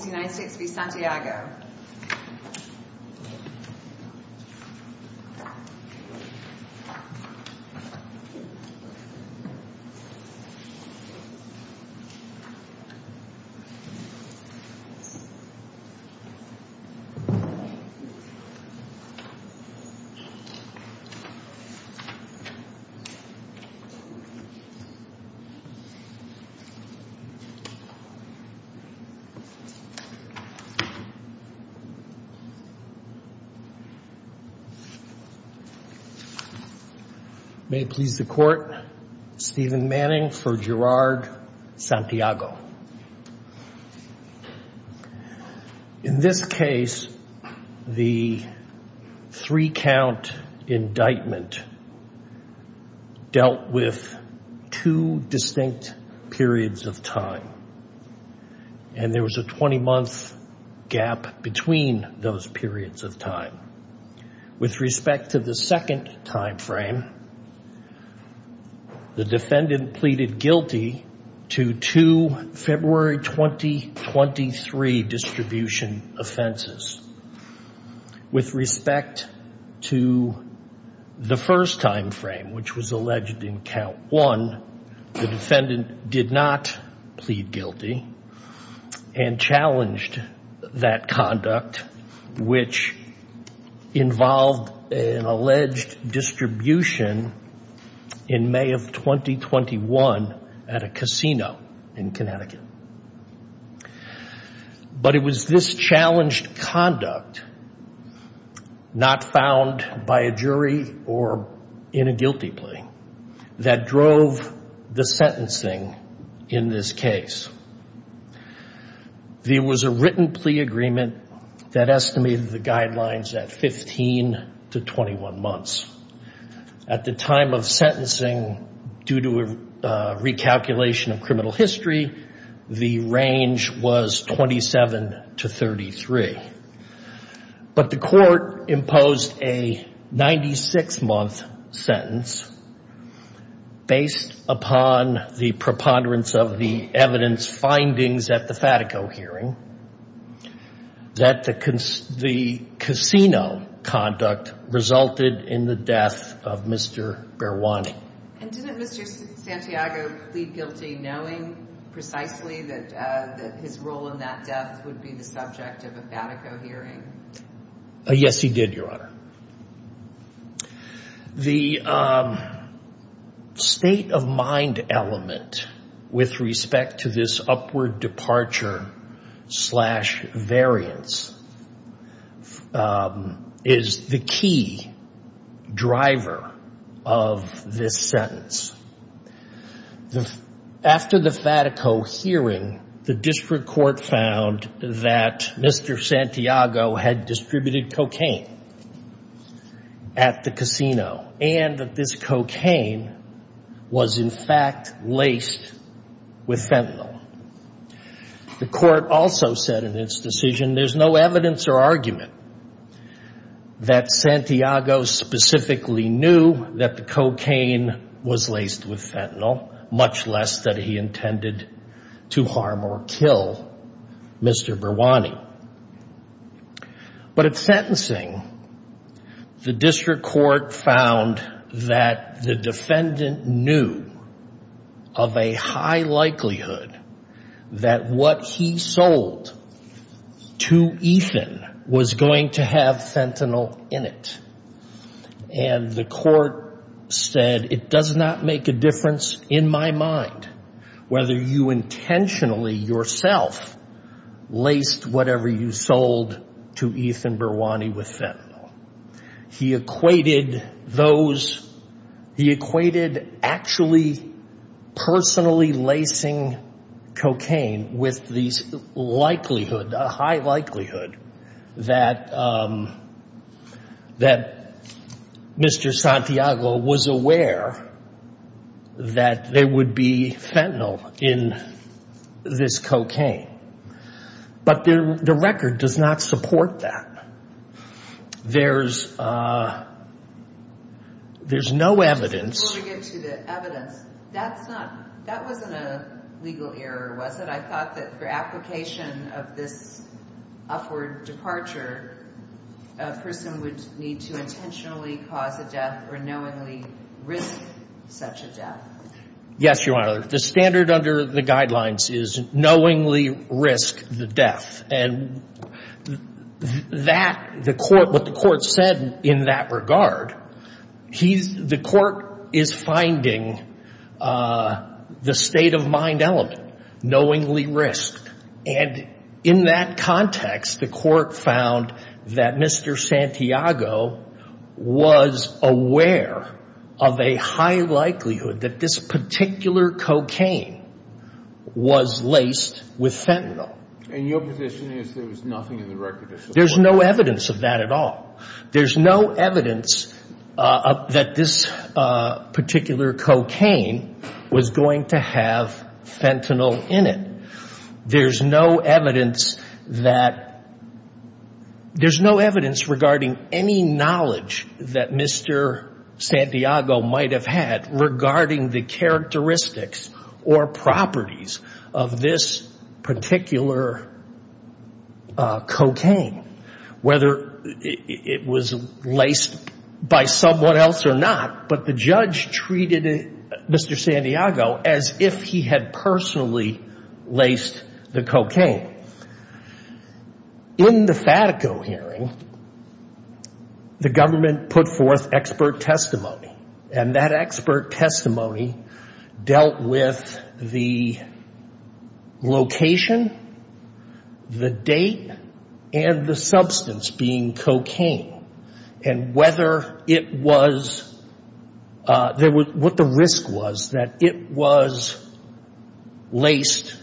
United States v. Santiago May it please the court, Stephen Manning for Gerard Santiago. In this case, the three-count month gap between those periods of time. With respect to the second time frame, the defendant pleaded guilty to two February 2023 distribution offenses. With respect to the first time frame, which was alleged in count one, the defendant did not plead guilty and challenged that conduct, which involved an alleged distribution in May of 2021 at a casino in Connecticut. But it was this challenged conduct, not found by a jury or in a guilty plea, that drove the sentencing in this case. There was a written plea agreement that estimated the guidelines at 15 to 21 months. At the time of sentencing, due to a recalculation of history, the range was 27 to 33. But the court imposed a 96-month sentence based upon the preponderance of the evidence findings at the Fatico hearing that the casino conduct resulted in the death of Mr. Berwani. And didn't Mr. Santiago plead guilty knowing precisely that his role in that death would be the subject of a Fatico hearing? Yes, he did, Your Honor. The state of mind element with respect to this upward departure slash variance is the key driver of this sentence. After the Fatico hearing, the district court found that Mr. Santiago had distributed cocaine at the casino and that this cocaine was, in fact, laced with fentanyl. The court also said in its decision, there's no evidence or argument that Santiago specifically knew that the cocaine was laced with fentanyl, much less that he intended to harm or kill Mr. Berwani. But at the time of sentencing, the district court found that the defendant knew of a high likelihood that what he sold to Ethan was going to have fentanyl in it. And the court said, it does not make a difference in my mind whether you intentionally yourself laced whatever you sold to Ethan Berwani with fentanyl. He equated those, he equated actually personally lacing cocaine with the likelihood, a high likelihood, that Mr. Santiago was aware that there would be fentanyl in this cocaine. But the record does not support that. There's no evidence. I just want to get to the evidence. That's not, that wasn't a legal error, was it? I thought that for application of this upward departure, a person would need to intentionally cause a death or knowingly risk such a death. Yes, Your Honor. The standard under the guidelines is knowingly risk the death. And that, the court, what the court said in that regard, he's, the court is finding the state of mind element, knowingly risk. And in that context, the court found that Mr. Santiago was aware of a high likelihood that this particular cocaine was laced with fentanyl. And your position is there was nothing in the record to support that? There's no evidence of that at all. There's no evidence that this particular cocaine was going to have fentanyl in it. There's no evidence that, there's no evidence regarding any knowledge that Mr. Santiago might have had regarding the characteristics or properties of this particular cocaine, whether it was laced by someone else or not. But the judge treated Mr. Santiago as if he had personally laced the cocaine. In the Fatico hearing, the government put forth expert testimony. And that expert was, what the risk was, that it was laced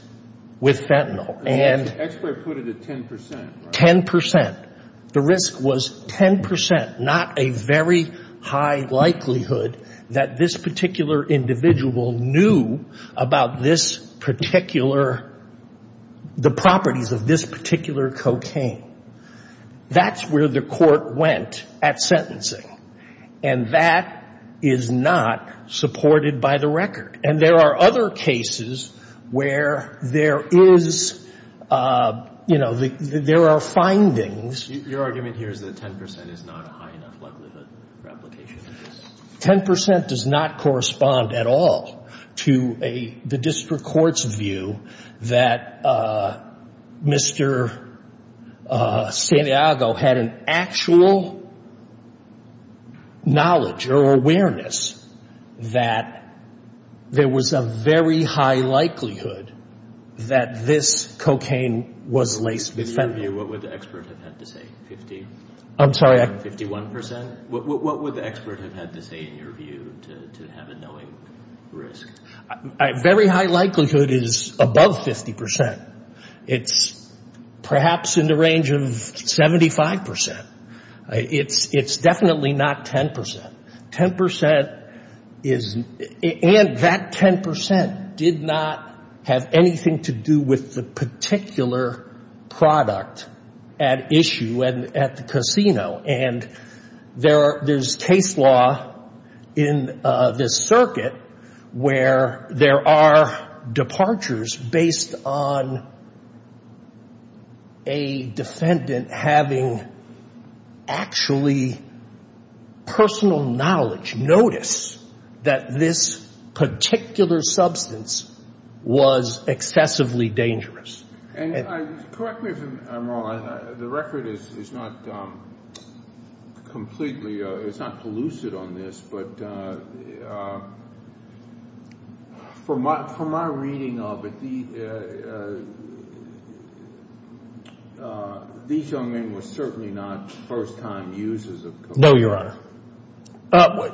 with fentanyl. And the expert put it at 10%, right? 10%. The risk was 10%, not a very high likelihood that this particular individual knew about this particular, the properties of this particular cocaine. That's where the court went at sentencing. And that is not supported by the record. And there are other cases where there is, you know, there are findings. Your argument here is that 10% is not a high enough likelihood for application? 10% does not correspond at all to the district court's view that Mr. Santiago had an actual knowledge or awareness that there was a very high likelihood that this cocaine was laced with fentanyl. In your view, what would the expert have had to say? 51%? What would the expert have had to say in your view to have a knowing risk? Very high likelihood is above 50%. It's perhaps in the range of 75%. It's definitely not 10%. 10% is, and that 10% did not have anything to do with the particular product at issue at the casino. And there's case law in this circuit where there are departures based on a defendant having actually personal knowledge, notice, that this particular substance was excessively dangerous. And correct me if I'm wrong, the record is not completely, it's not pellucid on this, but from my reading of it, these young men were certainly not first time users of cocaine. No, Your Honor.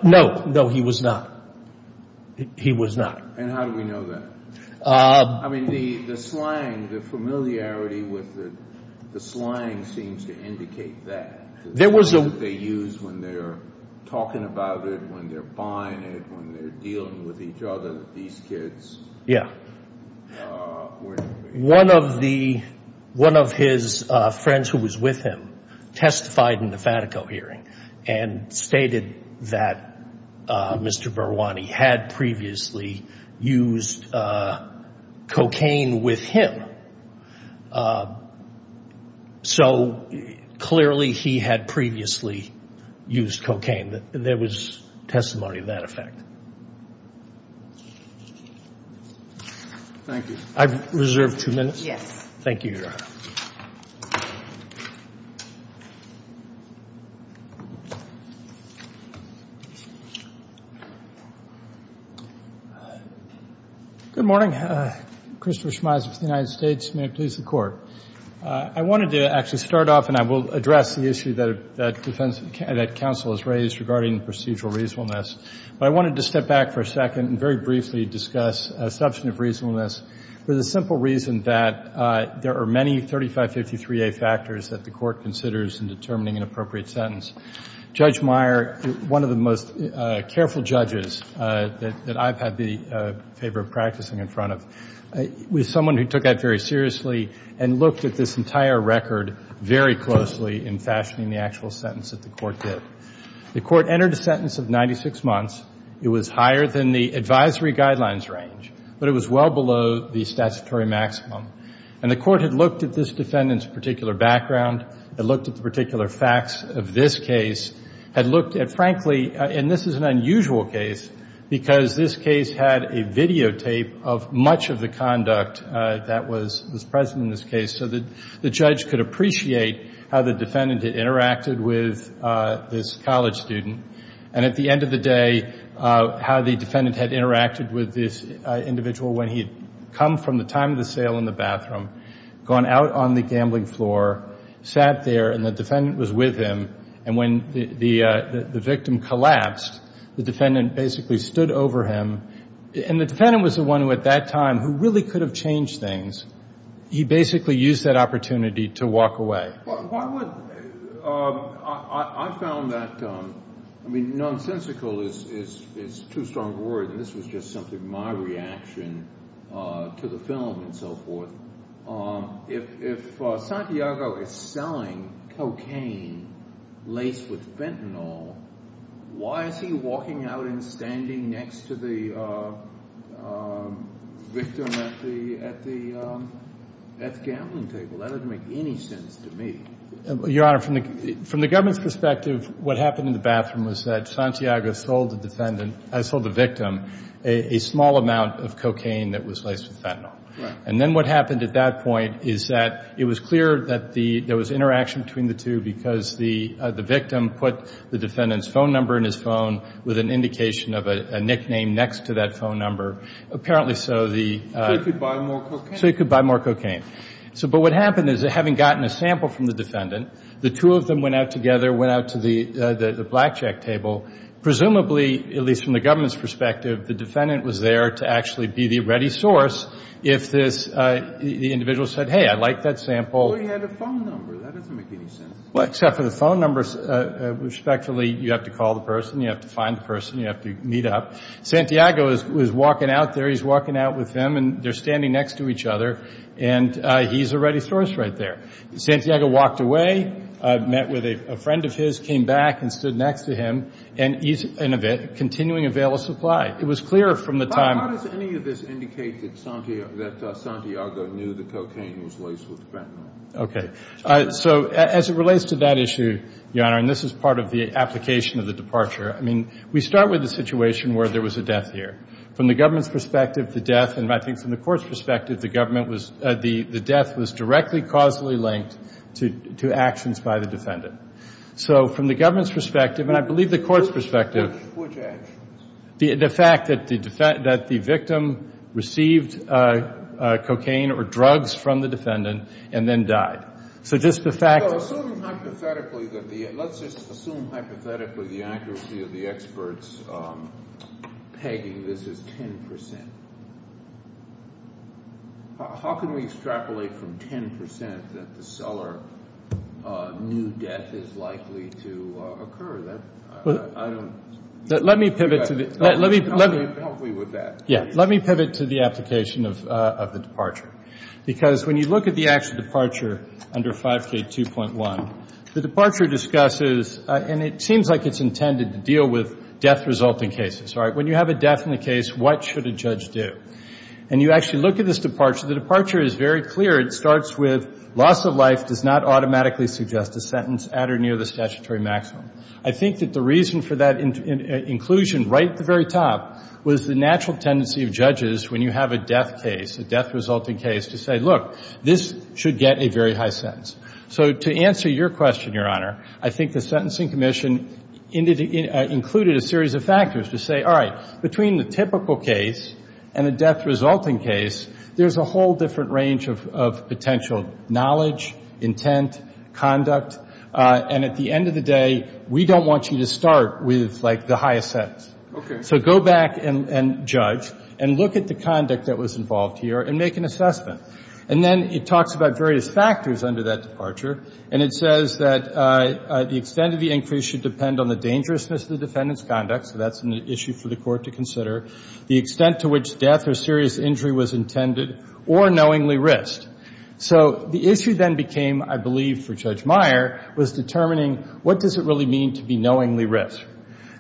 No, no, he was not. He was not. And how do we know that? I mean, the slang, the familiarity with the slang seems to indicate that. There was a... They use when they're talking about it, when they're buying it, when they're dealing with each other, that these kids... Yeah. One of his friends who was with him testified in the Fatico hearing and stated that Mr. Berwani had previously used cocaine with him. So clearly he had previously used cocaine. There was testimony of that effect. Thank you. I reserve two minutes. Thank you, Your Honor. Good morning. Christopher Schmeiser with the United States. May it please the Court. I wanted to actually start off, and I will address the issue that counsel has raised regarding procedural reasonableness. But I wanted to step back for a second and very briefly discuss a subject of reasonableness for the simple reason that there are many 3553A factors that the Court considers in determining an appropriate sentence. Judge Meyer, one of the most careful judges that I've had the favor of practicing in front of, was someone who took that very seriously and looked at this entire record very closely in fashioning the actual sentence that the Court did. The Court entered a sentence of 96 months. It was higher than the advisory guidelines range, but it was well below the statutory maximum. And the Court had looked at this defendant's particular background, had looked at the particular facts of this case, had looked at, frankly, and this is an unusual case because this case had a videotape of much of the conduct that was present in this case so that the judge could appreciate how the defendant had interacted with this college student and, at the end of the day, how the defendant had interacted with this individual when he had come from the time of the sale in the bathroom, gone out on the gambling floor, sat there, and the defendant was with him. And when the victim collapsed, the defendant basically stood over him. And the defendant was the one who, at that time, who really could have changed things. He basically used that opportunity to walk away. I found that, I mean, nonsensical is too strong a word, and this was just simply my reaction to the film and so forth. If Santiago is selling cocaine laced with fentanyl, why is he walking out and standing next to the victim at the gambling table? That doesn't make any sense to me. Your Honor, from the government's perspective, what happened in the bathroom was that Santiago sold the victim a small amount of cocaine that was laced with fentanyl. And then what happened at that point is that it was clear that there was interaction between the two because the victim put the defendant's phone number in his phone with an indication of a nickname next to that phone number. Apparently, so the — So he could buy more cocaine. So he could buy more cocaine. But what happened is, having gotten a sample from the defendant, the two of them went out together, went out to the blackjack table. Presumably, at least from the government's perspective, the defendant was there to actually be the ready source if this individual said, hey, I like that sample. Well, he had a phone number. That doesn't make any sense. Well, except for the phone number, respectfully, you have to call the person. You have to find the person. You have to meet up. Santiago was walking out there. He's walking out with him. And they're standing next to each other. And he's a ready source right there. Santiago walked away, met with a friend of his, came back and stood next to him. And he's continuing a veil of supply. It was clear from the time — Okay. So as it relates to that issue, Your Honor, and this is part of the application of the departure, I mean, we start with the situation where there was a death here. From the government's perspective, the death, and I think from the court's perspective, the government was — the death was directly causally linked to actions by the defendant. So from the government's perspective, and I believe the court's perspective — Which actions? The fact that the victim received cocaine or drugs from the defendant and then died. So just the fact — Well, assume hypothetically that the — let's just assume hypothetically the accuracy of the experts pegging this is 10 percent. How can we extrapolate from 10 percent that the seller knew death is likely to occur? I don't — Let me pivot to the — Help me with that. Yeah. Let me pivot to the application of the departure. Because when you look at the actual departure under 5K2.1, the departure discusses — and it seems like it's intended to deal with death-resulting cases, right? When you have a death in a case, what should a judge do? And you actually look at this departure, the departure is very clear. It starts with loss of life does not automatically suggest a sentence at or near the statutory maximum. I think that the reason for that inclusion right at the very top was the natural tendency of judges, when you have a death case, a death-resulting case, to say, look, this should get a very high sentence. So to answer your question, Your Honor, I think the Sentencing Commission included a series of factors to say, all right, between the typical case and the death-resulting case, there's a whole different range of potential knowledge, intent, conduct. And at the end of the day, we don't want you to start with, like, the highest sentence. Okay. So go back and judge and look at the conduct that was involved here and make an assessment. And then it talks about various factors under that departure. And it says that the extent of the increase should depend on the dangerousness of the defendant's conduct. So that's an issue for the Court to consider. The extent to which death or serious injury was intended or knowingly risked. So the issue then became, I believe, for Judge Meyer, was determining what does it really mean to be knowingly risked.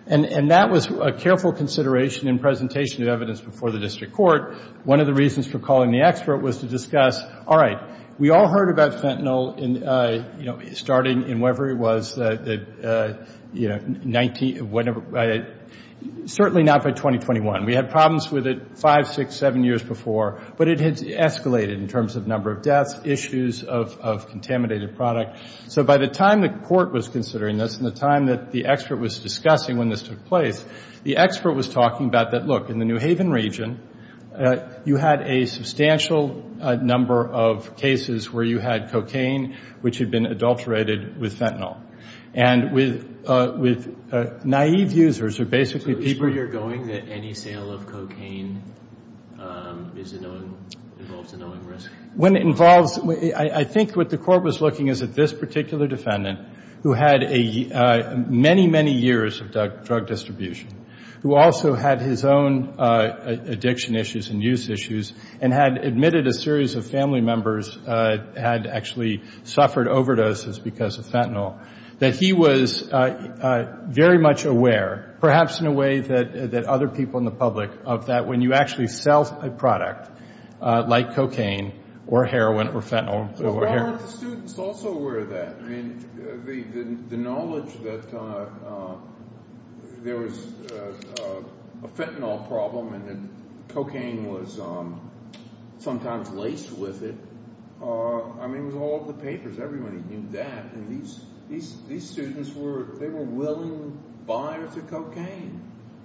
And that was a careful consideration in presentation of evidence before the district court. One of the reasons for calling the expert was to discuss, all right, we all heard about fentanyl, you know, starting in whatever it was, you know, 19 or whatever, certainly not by 2021. We had problems with it five, six, seven years before. But it had escalated in terms of number of deaths, issues of contaminated product. So by the time the court was considering this and the time that the expert was discussing when this took place, the expert was talking about that, look, in the New Haven region, you had a substantial number of cases where you had cocaine which had been adulterated with fentanyl. And with naive users, who are basically people. Where you're going that any sale of cocaine involves a knowing risk? When it involves, I think what the court was looking is that this particular defendant, who had many, many years of drug distribution, who also had his own addiction issues and use issues and had admitted a series of family members had actually suffered overdoses because of fentanyl, that he was very much aware, perhaps in a way that other people in the public, of that when you actually sell a product like cocaine or heroin or fentanyl. Well, aren't the students also aware of that? I mean, the knowledge that there was a fentanyl problem and that cocaine was sometimes laced with it, I mean, it was all in the papers. Everybody knew that. And these students were, they were willing buyers of cocaine.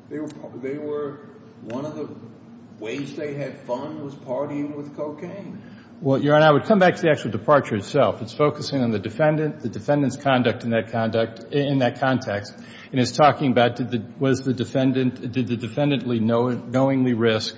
They were, one of the ways they had fun was partying with cocaine. Well, Your Honor, I would come back to the actual departure itself. It's focusing on the defendant, the defendant's conduct in that context. And it's talking about did the defendant knowingly risk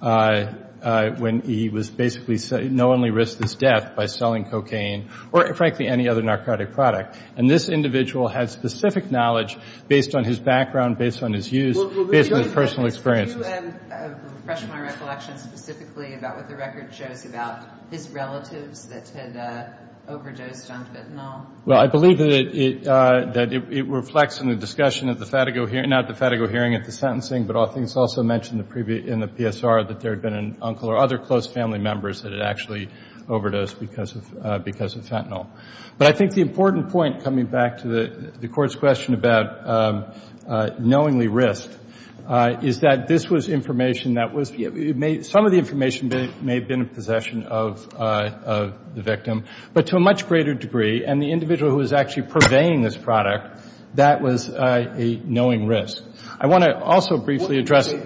when he was basically, knowingly risked his death by selling cocaine or, frankly, any other narcotic product. And this individual had specific knowledge based on his background, based on his use, based on his personal experiences. Well, Your Honor, can you refresh my recollection specifically about what the record shows about his relatives that had overdosed on fentanyl? Well, I believe that it reflects in the discussion at the FATIGO hearing, not the FATIGO hearing at the sentencing, but I think it's also mentioned in the PSR that there had been an uncle or other close family members that had actually overdosed because of fentanyl. But I think the important point, coming back to the Court's question about knowingly risk, is that this was information that was, some of the information may have been in possession of the victim, but to a much greater degree, and the individual who was actually purveying this product, that was a knowing risk. I want to also briefly address the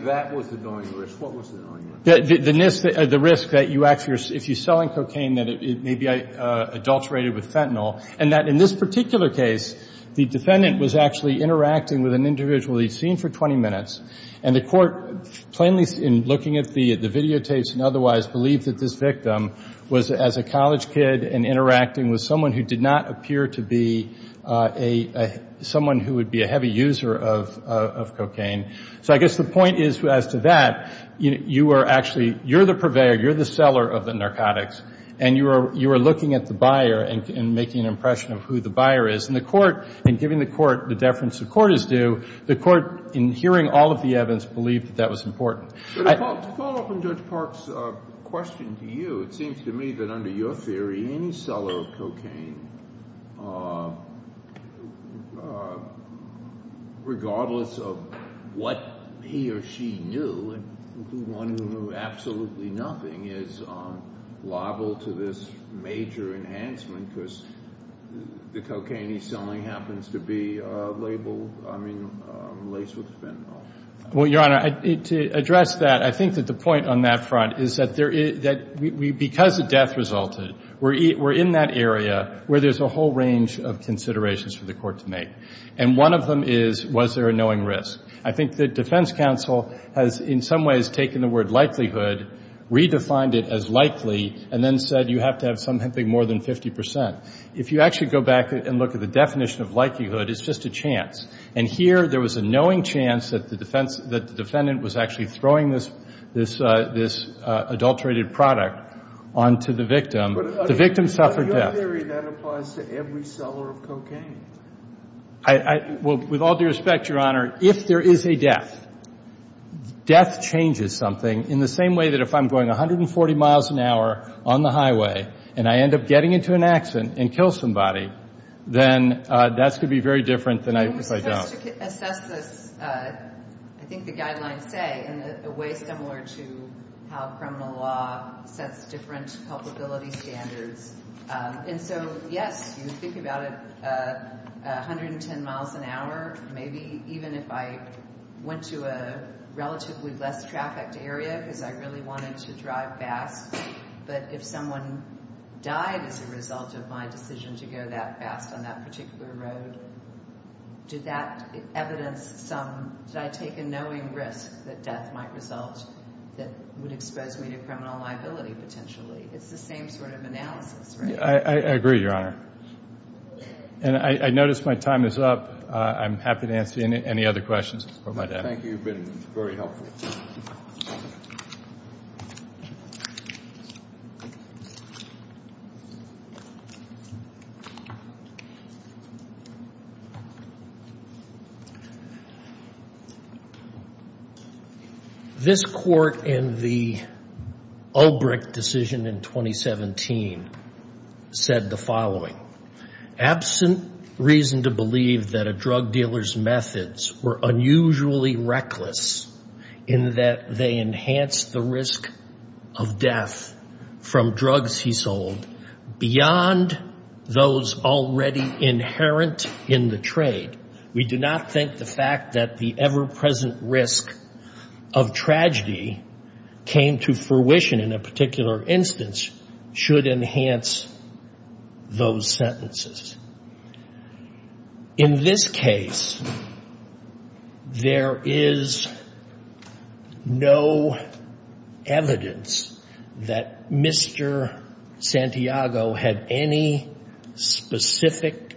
risk that you actually are, if you're selling cocaine, that it may be adulterated with fentanyl, and that in this particular case, the defendant was actually interacting with an individual he'd seen for 20 minutes, and the Court, plainly in looking at the videotapes and otherwise, believed that this victim was, as a college kid, interacting with someone who did not appear to be someone who would be a heavy user of cocaine. So I guess the point is, as to that, you are actually, you're the purveyor, you're the seller of the narcotics, and you are looking at the buyer and making an impression of who the buyer is. And the Court, in giving the Court the deference the Court is due, the Court, in hearing all of the evidence, believed that that was important. To follow up on Judge Park's question to you, it seems to me that under your theory, any seller of cocaine, regardless of what he or she knew, one who knew absolutely nothing, is liable to this major enhancement because the cocaine he's selling happens to be labeled, I mean, laced with fentanyl. Well, Your Honor, to address that, I think that the point on that front is that there is, because the death resulted, we're in that area where there's a whole range of considerations for the Court to make. And one of them is, was there a knowing risk? I think the defense counsel has, in some ways, taken the word likelihood, redefined it as likely, and then said you have to have something more than 50 percent. If you actually go back and look at the definition of likelihood, it's just a chance. And here, there was a knowing chance that the defendant was actually throwing this adulterated product onto the victim. The victim suffered death. But under your theory, that applies to every seller of cocaine. Well, with all due respect, Your Honor, if there is a death, death changes something, in the same way that if I'm going 140 miles an hour on the highway, and I end up getting into an accident and kill somebody, then that's going to be very different than if I don't. I'm supposed to assess this, I think the guidelines say, in a way similar to how criminal law sets different culpability standards. And so, yes, you think about it, 110 miles an hour, maybe even if I went to a relatively less trafficked area because I really wanted to drive fast, but if someone died as a result of my decision to go that fast on that particular road, did that evidence some, did I take a knowing risk that death might result that would expose me to criminal liability potentially? It's the same sort of analysis, right? I agree, Your Honor. And I notice my time is up. I'm happy to answer any other questions. Thank you. You've been very helpful. This court in the Ulbricht decision in 2017 said the following, in that they enhanced the risk of death from drugs he sold beyond those already inherent in the trade. We do not think the fact that the ever-present risk of tragedy came to fruition in a particular instance should enhance those sentences. In this case, there is no evidence that Mr. Santiago had any specific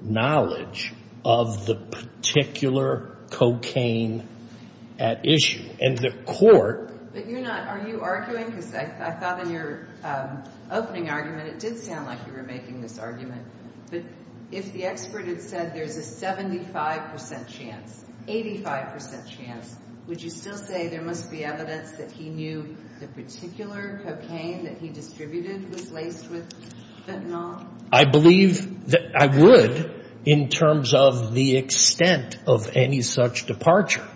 knowledge of the particular cocaine at issue. And the court… But you're not, are you arguing, because I thought in your opening argument it did sound like you were making this argument, but if the expert had said there's a 75 percent chance, 85 percent chance, would you still say there must be evidence that he knew the particular cocaine that he distributed was laced with fentanyl? I believe that I would in terms of the extent of any such departure.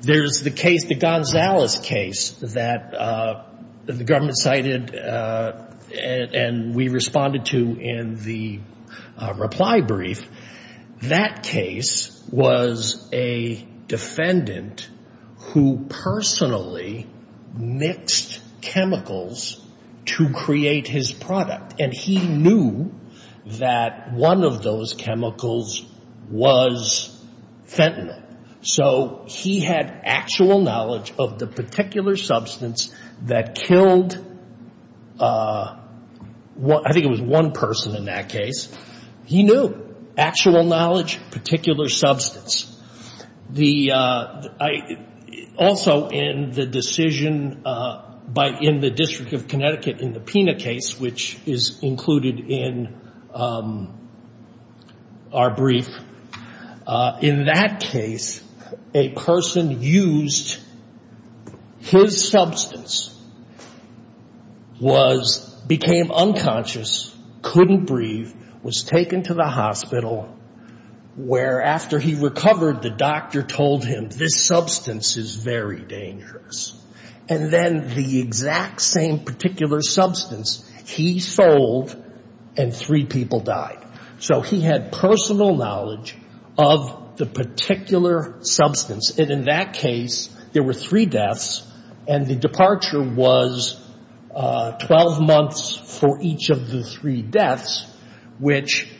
There's the case, the Gonzales case, that the government cited and we responded to in the reply brief. That case was a defendant who personally mixed chemicals to create his product, and he knew that one of those chemicals was fentanyl. So he had actual knowledge of the particular substance that killed, I think it was one person in that case. He knew. Actual knowledge, particular substance. Also in the decision in the District of Connecticut in the PINA case, which is included in our brief, in that case a person used his substance, became unconscious, couldn't breathe, was taken to the hospital, where after he recovered the doctor told him this substance is very dangerous. And then the exact same particular substance, he sold and three people died. So he had personal knowledge of the particular substance. And in that case, there were three deaths, and the departure was 12 months for each of the three deaths, which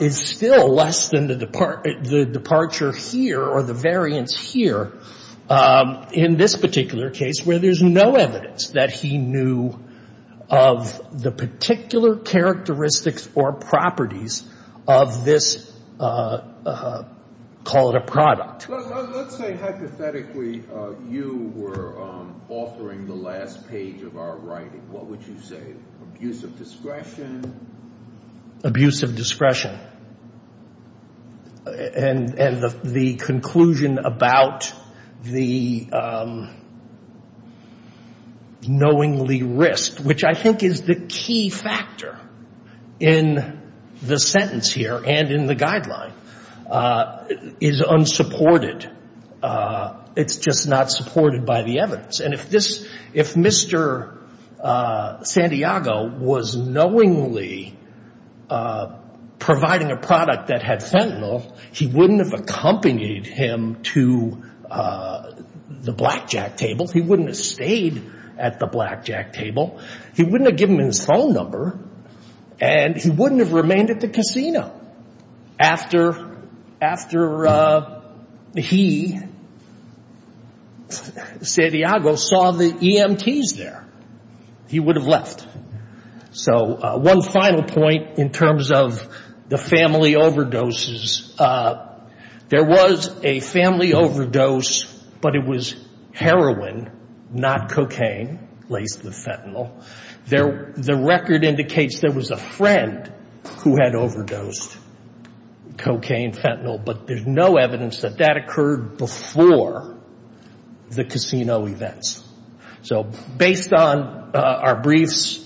is still less than the departure here or the variance here in this particular case, where there's no evidence that he knew of the particular characteristics or properties of this, call it a product. Let's say hypothetically you were authoring the last page of our writing. What would you say? Abuse of discretion? Abuse of discretion. And the conclusion about the knowingly risk, which I think is the key factor in the sentence here and in the guideline, is unsupported. It's just not supported by the evidence. And if this, if Mr. Santiago was knowingly providing a product that had fentanyl, he wouldn't have accompanied him to the blackjack table. He wouldn't have stayed at the blackjack table. He wouldn't have given him his phone number. And he wouldn't have remained at the casino. After he, Santiago, saw the EMTs there, he would have left. So one final point in terms of the family overdoses. There was a family overdose, but it was heroin, not cocaine, laced with fentanyl. The record indicates there was a friend who had overdosed cocaine, fentanyl, but there's no evidence that that occurred before the casino events. So based on our briefs,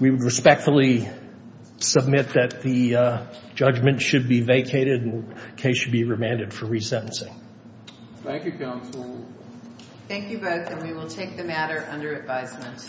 we would respectfully submit that the judgment should be vacated and the case should be remanded for resentencing. Thank you, counsel. Thank you both, and we will take the matter under advisement.